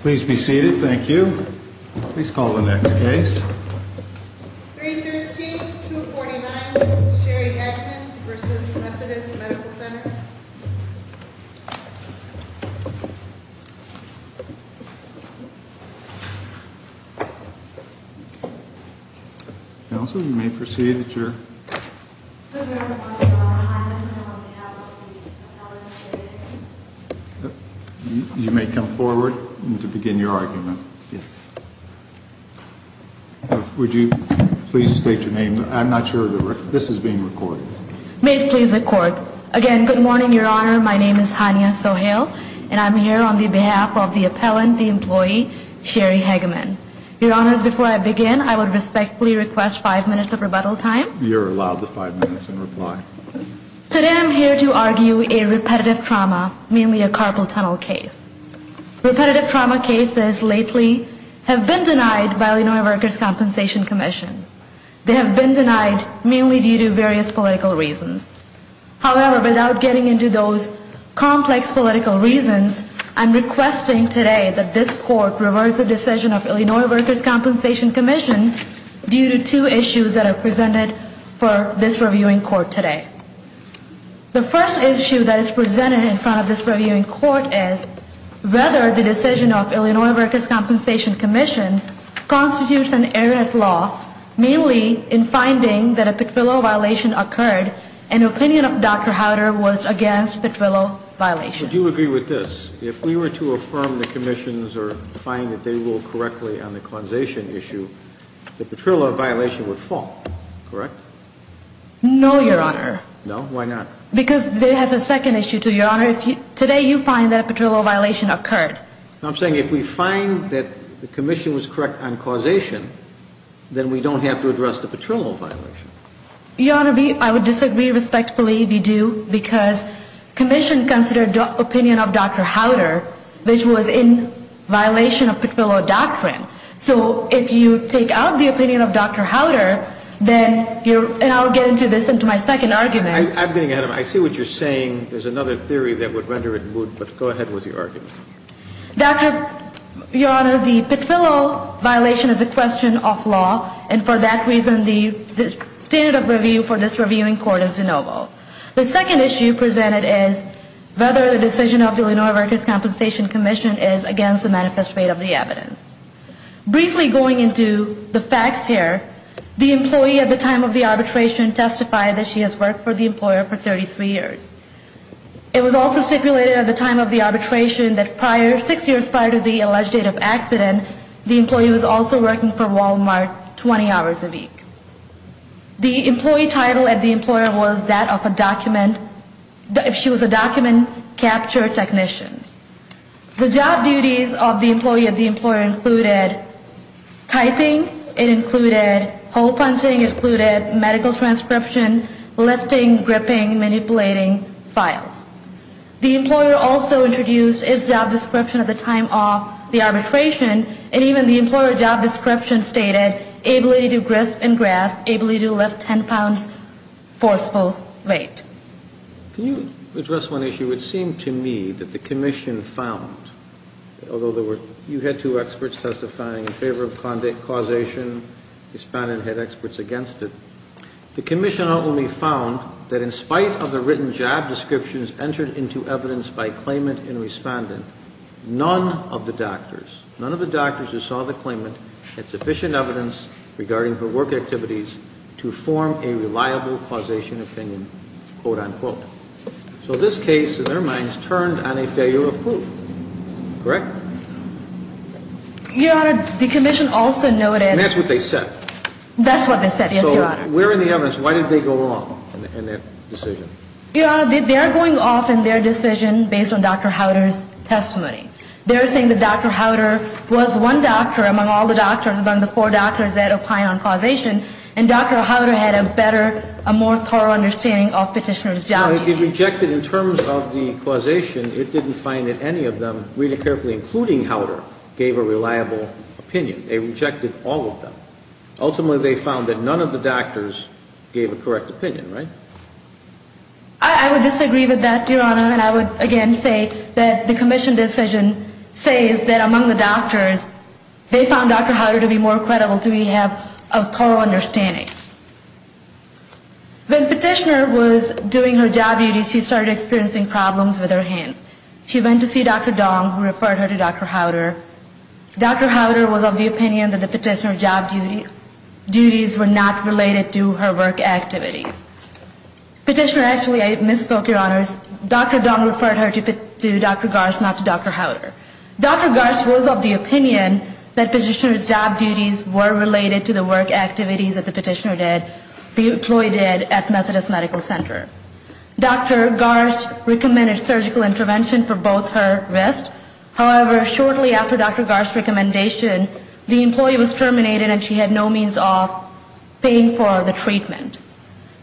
Please be seated, thank you. Please call the next case. 313-249 Sherry Edgman v. Methodist Medical Center Counsel, you may proceed at your... You may come forward to begin your argument. Would you please state your name? I'm not sure this is being recorded. May it please the Court. Again, good morning, Your Honor. My name is Hania Sohail, and I'm here on behalf of the appellant, the employee, Sherry Edgman. Your Honors, before I begin, I would respectfully request five minutes of rebuttal time. You're allowed the five minutes in reply. Today I'm here to argue a repetitive trauma, mainly a carpal tunnel case. Repetitive trauma cases lately have been denied by Illinois Workers' Compensation Commission. They have been denied mainly due to various political reasons. However, without getting into those complex political reasons, I'm requesting today that this Court reverse the decision of Illinois Workers' Compensation Commission due to two issues that are presented for this reviewing court today. The first issue that is presented in front of this reviewing court is whether the decision of Illinois Workers' Compensation Commission constitutes an errant law, mainly in finding that a Petrillo violation occurred and opinion of Dr. Howder was against Petrillo violation. Would you agree with this? If we were to affirm the Commission's or find that they ruled correctly on the causation issue, the Petrillo violation would fall, correct? No, Your Honor. No? Why not? Because they have a second issue, too, Your Honor. Today you find that a Petrillo violation occurred. I'm saying if we find that the Commission was correct on causation, then we don't have to address the Petrillo violation. Your Honor, I would disagree respectfully if you do, because Commission considered opinion of Dr. Howder, which was in violation of Petrillo doctrine. So if you take out the opinion of Dr. Howder, then you're – and I'll get into this into my second argument. I'm getting ahead of myself. I see what you're saying. There's another theory that would render it moot, but go ahead with your argument. Your Honor, the Petrillo violation is a question of law, and for that reason, the standard of review for this reviewing court is de novo. The second issue presented is whether the decision of the Illinois Workers' Compensation Commission is against the manifest rate of the evidence. Briefly going into the facts here, the employee at the time of the arbitration testified that she has worked for the employer for 33 years. It was also stipulated at the time of the arbitration that prior – six years prior to the alleged date of accident, the employee was also working for Walmart 20 hours a week. The employee title at the employer was that of a document – if she was a document capture technician. The job duties of the employee at the employer included typing. It included hole punching. It included medical transcription, lifting, gripping, manipulating files. The employer also introduced its job description at the time of the arbitration, and even the employer job description stated, able to do grist and grasp, able to lift 10 pounds forceful weight. Can you address one issue? It would seem to me that the commission found, although there were – you had two experts testifying in favor of causation. Respondent had experts against it. The commission only found that in spite of the written job descriptions entered into evidence by claimant and respondent, none of the doctors – none of the doctors who saw the claimant had sufficient evidence regarding her work activities to form a reliable causation opinion, quote, unquote. So this case, in their minds, turned on a failure of proof. Correct? Your Honor, the commission also noted – And that's what they said. That's what they said, yes, Your Honor. So where in the evidence – why did they go wrong in that decision? Your Honor, they are going off in their decision based on Dr. Howder's testimony. They are saying that Dr. Howder was one doctor among all the doctors, among the four doctors that opined on causation, and Dr. Howder had a better, a more thorough understanding of Petitioner's job. Well, they rejected in terms of the causation. It didn't find that any of them, really carefully including Howder, gave a reliable opinion. They rejected all of them. Ultimately, they found that none of the doctors gave a correct opinion, right? I would disagree with that, Your Honor, and I would again say that the commission decision says that among the doctors, they found Dr. Howder to be more credible, to have a thorough understanding. When Petitioner was doing her job duties, she started experiencing problems with her hands. She went to see Dr. Dong, who referred her to Dr. Howder. Dr. Howder was of the opinion that the Petitioner's job duties were not related to her work activities. Petitioner actually, I misspoke, Your Honors. Dr. Dong referred her to Dr. Garce, not to Dr. Howder. Dr. Garce was of the opinion that Petitioner's job duties were related to the work activities that the Petitioner did, the employee did at Methodist Medical Center. Dr. Garce recommended surgical intervention for both her wrists. However, shortly after Dr. Garce's recommendation, the employee was terminated and she had no means of paying for the treatment.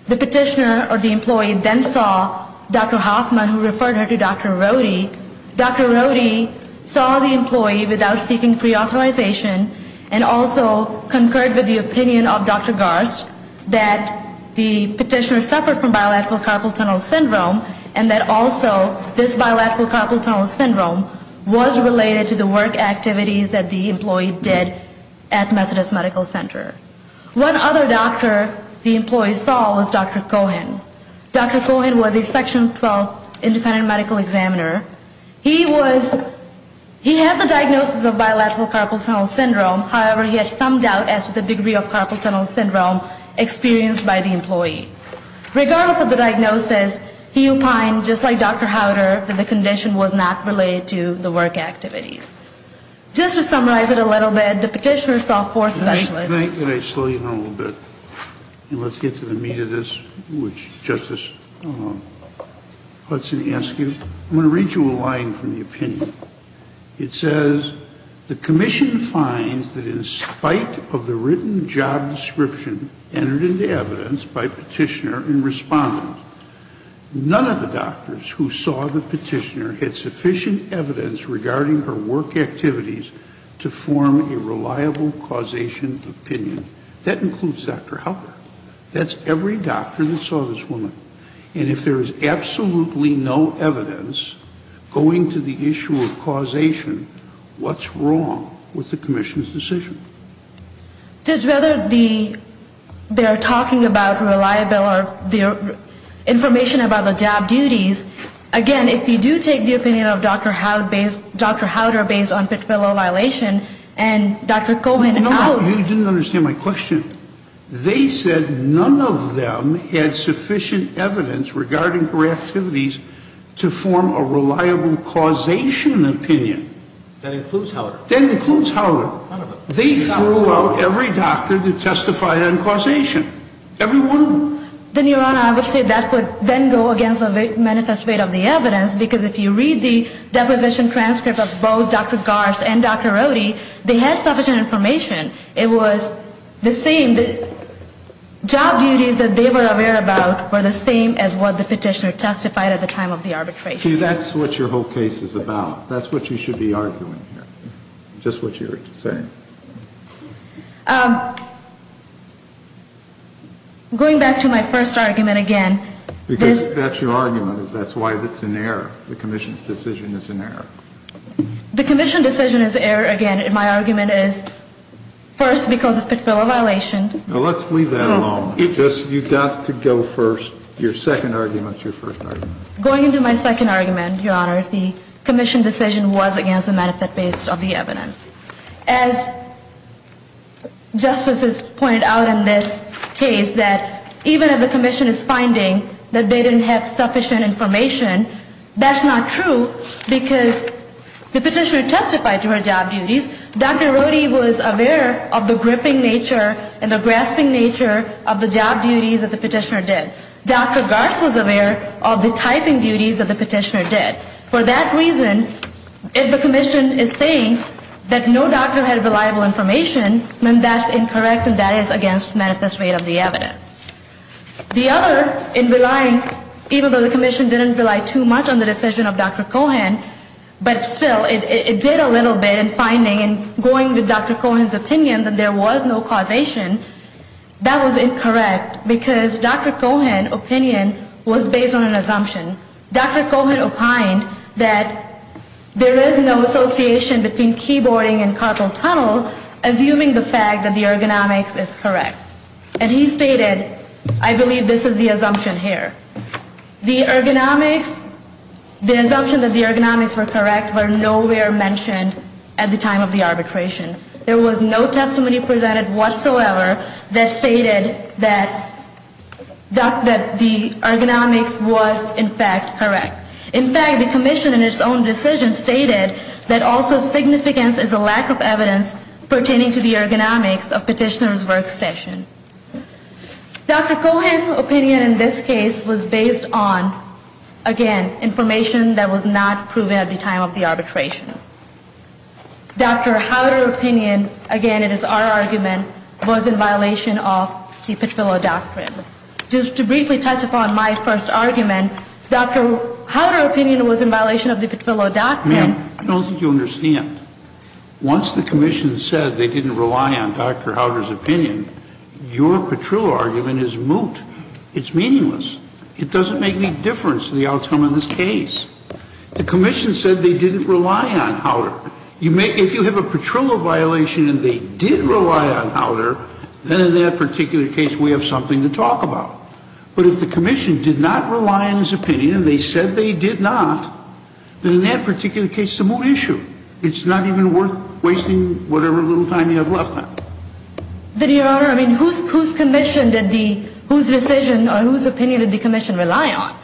The Petitioner or the employee then saw Dr. Hoffman, who referred her to Dr. Rohde. Dr. Rohde saw the employee without seeking preauthorization and also concurred with the opinion of Dr. Garce that the Petitioner suffered from bilateral carpal tunnel syndrome and that also this bilateral carpal tunnel syndrome was related to the work activities that the employee did at Methodist Medical Center. One other doctor the employee saw was Dr. Cohen. Dr. Cohen was a Section 12 independent medical examiner. He was, he had the diagnosis of bilateral carpal tunnel syndrome. However, he had some doubt as to the degree of carpal tunnel syndrome experienced by the employee. Regardless of the diagnosis, he opined, just like Dr. Howder, that the condition was not related to the work activities. Just to summarize it a little bit, the Petitioner saw four specialists. I think that I slowed you down a little bit. And let's get to the meat of this, which Justice Hudson asked you. I'm going to read you a line from the opinion. It says, the commission finds that in spite of the written job description entered into evidence by Petitioner in response, none of the doctors who saw the Petitioner had sufficient evidence regarding her work activities to form a reliable causation opinion. That includes Dr. Howder. That's every doctor that saw this woman. And if there is absolutely no evidence going to the issue of causation, what's wrong with the commission's decision? Judge, whether they're talking about reliable or information about the job duties, again, if you do take the opinion of Dr. Howder based on Petitioner's violation, and Dr. Coleman, No, you didn't understand my question. They said none of them had sufficient evidence regarding her activities to form a reliable causation opinion. That includes Howder. That includes Howder. None of them. They threw out every doctor that testified on causation. Every one of them. Then, Your Honor, I would say that would then go against the manifest rate of the evidence, because if you read the deposition transcript of both Dr. Garst and Dr. Rohde, they had sufficient information. It was the same. The job duties that they were aware about were the same as what the Petitioner testified at the time of the arbitration. See, that's what your whole case is about. That's what you should be arguing here, just what you're saying. Going back to my first argument again. Because that's your argument. That's why it's an error. The commission's decision is an error. The commission's decision is an error. Again, my argument is, first, because of Petitfiller violation. Now, let's leave that alone. You've got to go first. Your second argument is your first argument. Going into my second argument, Your Honors, the commission decision was against the manifest base of the evidence. As justices point out in this case, that even if the commission is finding that they didn't have sufficient information, that's not true, because the Petitioner testified to her job duties. Dr. Rohde was aware of the gripping nature and the grasping nature of the job duties that the Petitioner did. Dr. Garst was aware of the typing duties that the Petitioner did. For that reason, if the commission is saying that no doctor had reliable information, then that's incorrect, and that is against manifest rate of the evidence. The other, in relying, even though the commission didn't rely too much on the decision of Dr. Cohan, but still, it did a little bit in finding and going with Dr. Cohan's opinion that there was no causation, that was incorrect, because Dr. Cohan's opinion was based on an assumption. Dr. Cohan opined that there is no association between keyboarding and causal tunnel, assuming the fact that the ergonomics is correct. And he stated, I believe this is the assumption here. The ergonomics, the assumption that the ergonomics were correct were nowhere mentioned at the time of the arbitration. There was no testimony presented whatsoever that stated that the ergonomics was, in fact, correct. In fact, the commission in its own decision stated that also significance is a lack of evidence pertaining to the ergonomics of Petitioner's workstation. Dr. Cohan's opinion in this case was based on, again, information that was not proven at the time of the arbitration. Dr. Howder's opinion, again, it is our argument, was in violation of the Petrillo Doctrine. Just to briefly touch upon my first argument, Dr. Howder's opinion was in violation of the Petrillo Doctrine. I don't think you understand. Once the commission said they didn't rely on Dr. Howder's opinion, your Petrillo argument is moot. It's meaningless. It doesn't make any difference to the outcome of this case. The commission said they didn't rely on Howder. If you have a Petrillo violation and they did rely on Howder, then in that particular case we have something to talk about. But if the commission did not rely on his opinion and they said they did not, then in that particular case it's a moot issue. It's not even worth wasting whatever little time you have left on it. Then, Your Honor, I mean, whose commission did the – whose decision or whose opinion did the commission rely on?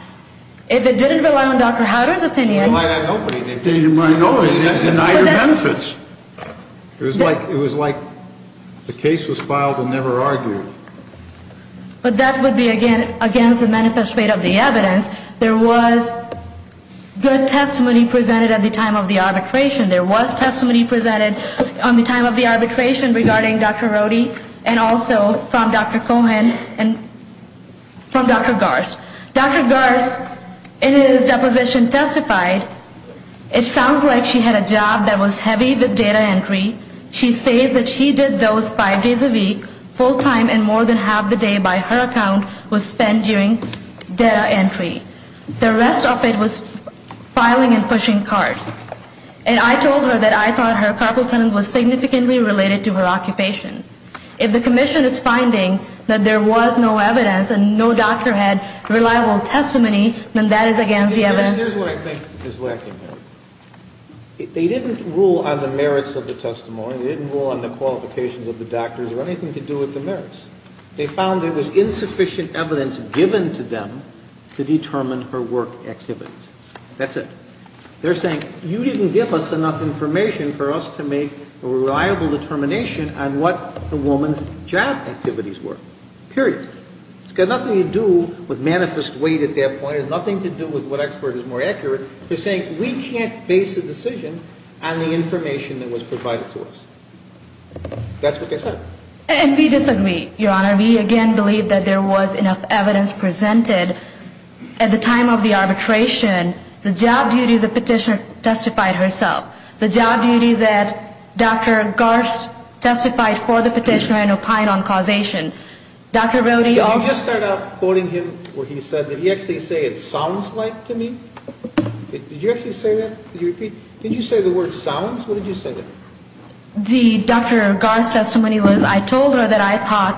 If it didn't rely on Dr. Howder's opinion – It didn't rely on nobody. They didn't rely on nobody. They denied their benefits. It was like the case was filed and never argued. But that would be, again, against the manifest rate of the evidence. There was good testimony presented at the time of the arbitration. There was testimony presented on the time of the arbitration regarding Dr. Rohde and also from Dr. Cohen and from Dr. Garst. Dr. Garst, in his deposition, testified, it sounds like she had a job that was heavy with data entry. She says that she did those five days a week, full time, and more than half the day, by her account, was spent doing data entry. The rest of it was filing and pushing cards. And I told her that I thought her carpal tunnel was significantly related to her occupation. If the commission is finding that there was no evidence and no doctor had reliable testimony, then that is against the evidence. Here's what I think is lacking here. They didn't rule on the merits of the testimony. They didn't rule on the qualifications of the doctors or anything to do with the merits. They found there was insufficient evidence given to them to determine her work activities. That's it. They're saying you didn't give us enough information for us to make a reliable determination on what the woman's job activities were. Period. It's got nothing to do with manifest weight at that point. It has nothing to do with what expert is more accurate. They're saying we can't base a decision on the information that was provided to us. That's what they said. And we disagree, Your Honor. We, again, believe that there was enough evidence presented. At the time of the arbitration, the job duties the petitioner testified herself. The job duties that Dr. Garst testified for the petitioner and opined on causation. Dr. Brody also – Did you just start out quoting him where he said – did he actually say it sounds like to me? Did you actually say that? Did you say the word sounds? What did you say there? The Dr. Garst testimony was I told her that I thought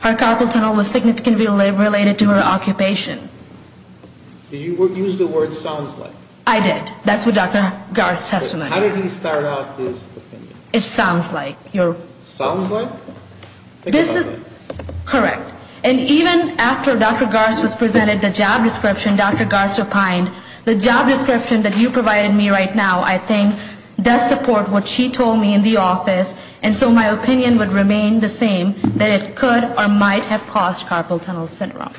her carpal tunnel was significantly related to her occupation. Did you use the word sounds like? I did. That's what Dr. Garst testified. How did he start out his opinion? It sounds like. Sounds like? Correct. And even after Dr. Garst was presented the job description Dr. Garst opined, the job description that you provided me right now, I think, does support what she told me in the office. And so my opinion would remain the same that it could or might have caused carpal tunnel syndrome.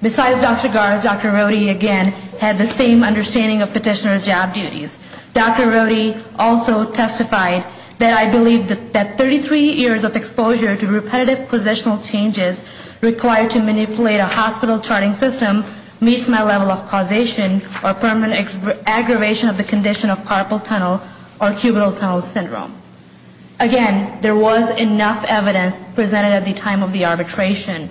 Besides Dr. Garst, Dr. Brody, again, had the same understanding of petitioner's job duties. Dr. Brody also testified that I believe that 33 years of exposure to repetitive positional changes required to manipulate a hospital charting system meets my level of causation or permanent aggravation of the condition of carpal tunnel or cubital tunnel syndrome. Again, there was enough evidence presented at the time of the arbitration,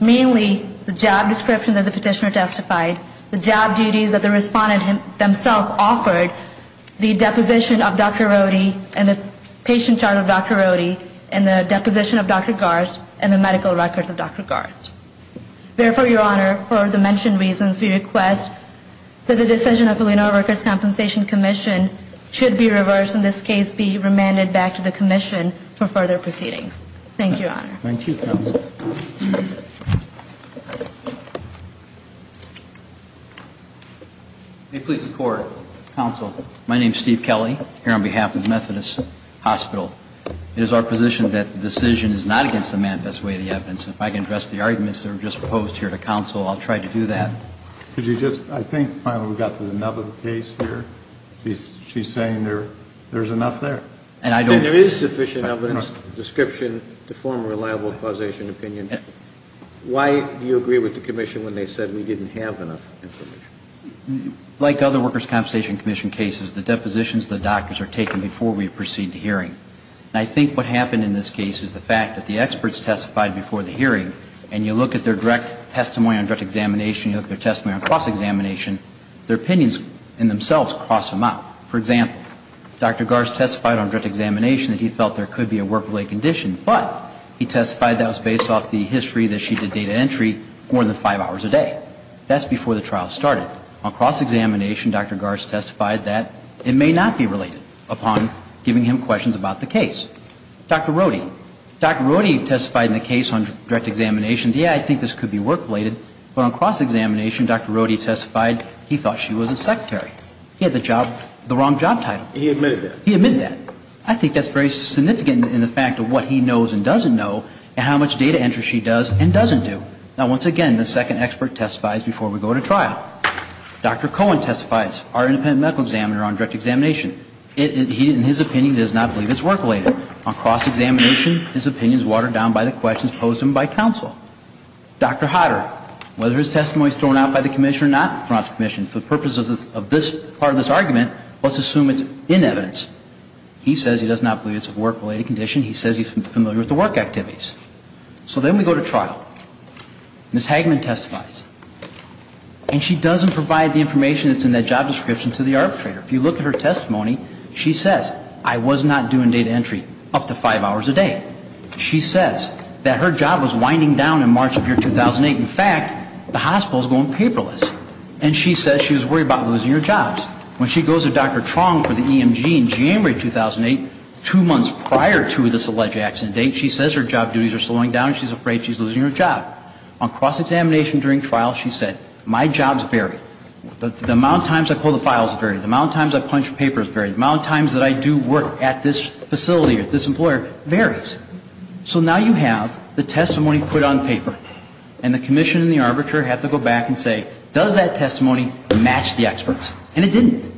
mainly the job description that the petitioner testified, the job duties that the respondent themself offered, the deposition of Dr. Brody and the patient chart of Dr. Brody, and the deposition of Dr. Garst and the medical records of Dr. Garst. Therefore, Your Honor, for the mentioned reasons, we request that the decision of Illinois Records Compensation Commission should be reversed, in this case be remanded back to the commission for further proceedings. Thank you, Your Honor. Thank you, Counsel. May it please the Court. Counsel, my name is Steve Kelly, here on behalf of Methodist Hospital. It is our position that the decision is not against the manifest way of the evidence. If I can address the arguments that were just proposed here to counsel, I'll try to do that. Could you just, I think finally we got to the nub of the case here. She's saying there's enough there. There is sufficient evidence, description to form a reliable causation opinion. Why do you agree with the commission when they said we didn't have enough information? Like other Workers' Compensation Commission cases, the depositions of the doctors are taken before we proceed to hearing. And I think what happened in this case is the fact that the experts testified before the hearing, and you look at their direct testimony on direct examination, you look at their testimony on cross-examination, their opinions in themselves cross them out. For example, Dr. Garst testified on direct examination that he felt there could be a work-related condition, but he testified that was based off the history that she did data entry more than five hours a day. That's before the trial started. On cross-examination, Dr. Garst testified that it may not be related upon giving him questions about the case. Dr. Rohde. Dr. Rohde testified in the case on direct examination, yeah, I think this could be work-related, but on cross-examination, Dr. Rohde testified he thought she was a secretary. He had the job, the wrong job title. He admitted that. He admitted that. I think that's very significant in the fact of what he knows and doesn't know, and how much data entry she does and doesn't do. Now, once again, the second expert testifies before we go to trial. Dr. Cohen testifies, our independent medical examiner, on direct examination. He, in his opinion, does not believe it's work-related. On cross-examination, his opinion is watered down by the questions posed to him by counsel. Dr. Hodder, whether his testimony is thrown out by the commission or not, for the purposes of this part of this argument, let's assume it's in evidence. He says he does not believe it's a work-related condition. He says he's familiar with the work activities. So then we go to trial. Ms. Hagman testifies. And she doesn't provide the information that's in that job description to the arbitrator. If you look at her testimony, she says, I was not doing data entry up to five hours a day. She says that her job was winding down in March of year 2008. In fact, the hospital is going paperless. And she says she was worried about losing her jobs. When she goes to Dr. Truong for the EMG in January 2008, two months prior to this alleged accident date, she says her job duties are slowing down and she's afraid she's losing her job. On cross-examination during trial, she said, my jobs vary. The amount of times I pull the files vary. The amount of times I punch papers vary. The amount of times that I do work at this facility or at this employer varies. So now you have the testimony put on paper, and the commission and the arbitrator have to go back and say, does that testimony match the experts? And it didn't.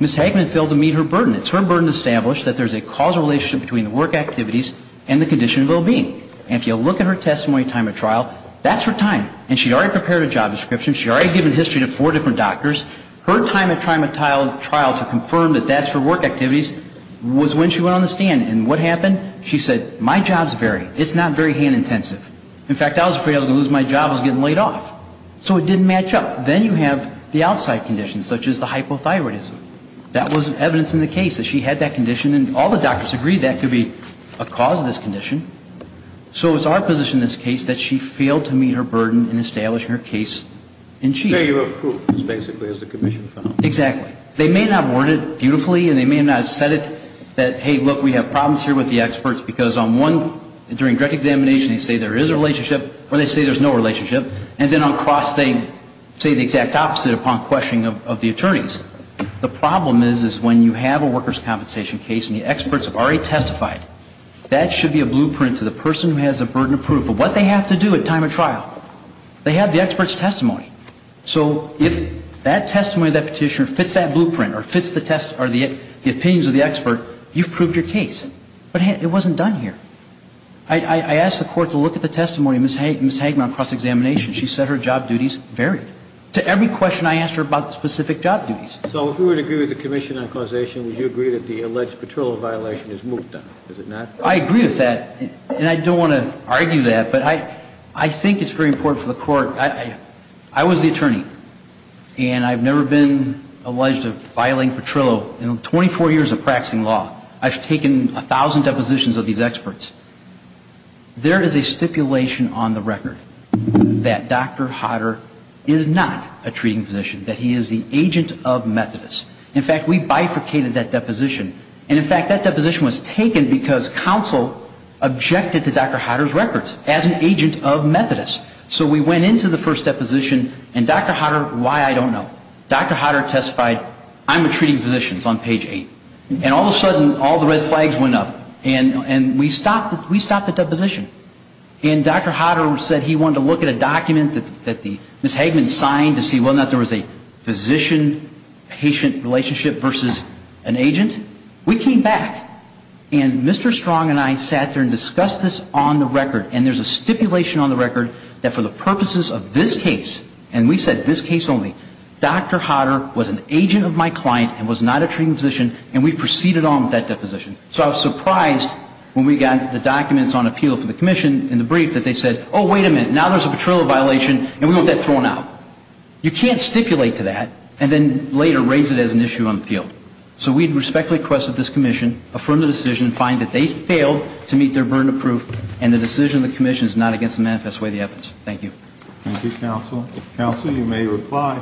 Ms. Hagman failed to meet her burden. It's her burden to establish that there's a causal relationship between the work activities and the condition of well-being. And if you look at her testimony time at trial, that's her time. And she already prepared a job description. She already given history to four different doctors. Her time at trial to confirm that that's her work activities was when she went on the stand. And what happened? She said, my jobs vary. It's not very hand-intensive. In fact, I was afraid I was going to lose my job. I was getting laid off. So it didn't match up. Then you have the outside conditions, such as the hypothyroidism. That was evidence in the case that she had that condition. And all the doctors agreed that could be a cause of this condition. So it's our position in this case that she failed to meet her burden in establishing her case in chief. There you have proof, basically, as the commission found. Exactly. They may not have worded it beautifully, and they may not have said it that, hey, look, we have problems here with the experts, because on one, during direct examination, they say there is a relationship, or they say there's no relationship. And then on cross, they say the exact opposite upon questioning of the attorneys. The problem is, is when you have a workers' compensation case and the experts have already testified, that should be a blueprint to the person who has the burden of proof of what they have to do at time of trial. They have the expert's testimony. So if that testimony of that petitioner fits that blueprint or fits the opinions of the expert, you've proved your case. But it wasn't done here. I asked the court to look at the testimony of Ms. Hagman on cross-examination. She said her job duties varied. To every question I asked her about the specific job duties. So if we were to agree with the commission on causation, would you agree that the alleged Petrillo violation is moved on? Is it not? I agree with that, and I don't want to argue that, but I think it's very important for the court. I was the attorney, and I've never been alleged of violating Petrillo. In 24 years of practicing law, I've taken 1,000 depositions of these experts. There is a stipulation on the record that Dr. Hodder is not a treating physician, that he is the agent of Methodist. In fact, we bifurcated that deposition. And in fact, that deposition was taken because counsel objected to Dr. Hodder's records as an agent of Methodist. So we went into the first deposition, and Dr. Hodder, why, I don't know. Dr. Hodder testified, I'm a treating physician. It's on page 8. And all of a sudden, all the red flags went up. And we stopped the deposition. And Dr. Hodder said he wanted to look at a document that Ms. Hagman signed to see whether or not there was a physician-patient relationship versus an agent. We came back, and Mr. Strong and I sat there and discussed this on the record. And there's a stipulation on the record that for the purposes of this case, and we said this case only, Dr. Hodder was an agent of my client and was not a treating physician, and we proceeded on with that deposition. So I was surprised when we got the documents on appeal for the commission in the brief that they said, oh, wait a minute. Now there's a patrol violation, and we want that thrown out. You can't stipulate to that and then later raise it as an issue on appeal. So we respectfully request that this commission affirm the decision and find that they failed to meet their burden of proof, and the decision of the commission is not against the manifest way of the evidence. Thank you. Thank you, counsel. Counsel, you may reply.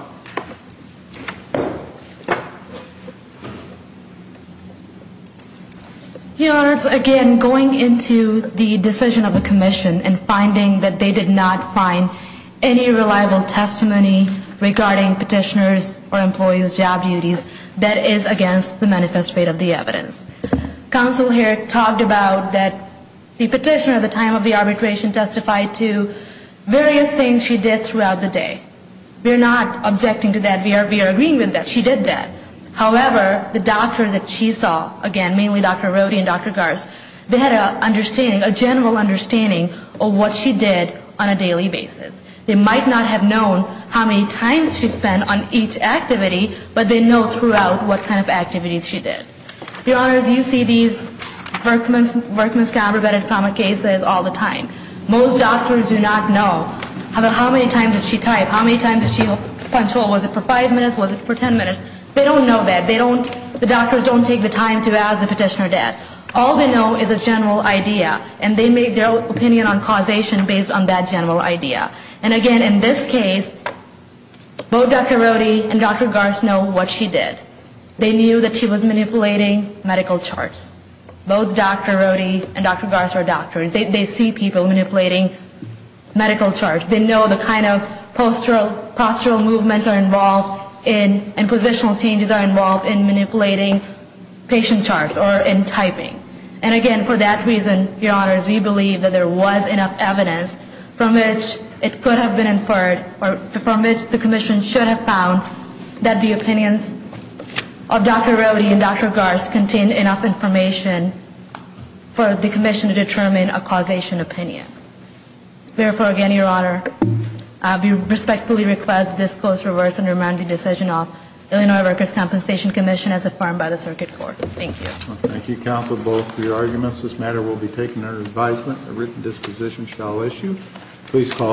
Your Honors, again, going into the decision of the commission and finding that they did not find any reliable testimony regarding petitioners or employees' job duties, that is against the manifest way of the evidence. Counsel here talked about that the petitioner at the time of the arbitration testified to various things she did throughout the day. We are not objecting to that. We are agreeing with that. She did that. However, the doctors that she saw, again, mainly Dr. Roddy and Dr. Garst, they had an understanding, a general understanding of what she did on a daily basis. They might not have known how many times she spent on each activity, but they know throughout what kind of activities she did. Your Honors, you see these workman's compromise cases all the time. Most doctors do not know how many times did she type, how many times did she punctual. Was it for five minutes? Was it for ten minutes? They don't know that. The doctors don't take the time to ask the petitioner that. All they know is a general idea, and they make their opinion on causation based on that general idea. And, again, in this case, both Dr. Roddy and Dr. Garst know what she did. They knew that she was manipulating medical charts. Both Dr. Roddy and Dr. Garst are doctors. They see people manipulating medical charts. They know the kind of postural movements are involved in and positional changes are involved in manipulating patient charts or in typing. And, again, for that reason, Your Honors, we believe that there was enough evidence from which it could have been inferred or from which the commission should have found that the opinions of Dr. Roddy and Dr. Garst contained enough information for the commission to determine a causation opinion. Therefore, again, Your Honor, we respectfully request this court's reverse and remand the decision of Illinois Workers' Compensation Commission as affirmed by the Circuit Court. Thank you. Thank you, counsel, both for your arguments. This matter will be taken under advisement. A written disposition shall issue. Please call the roll.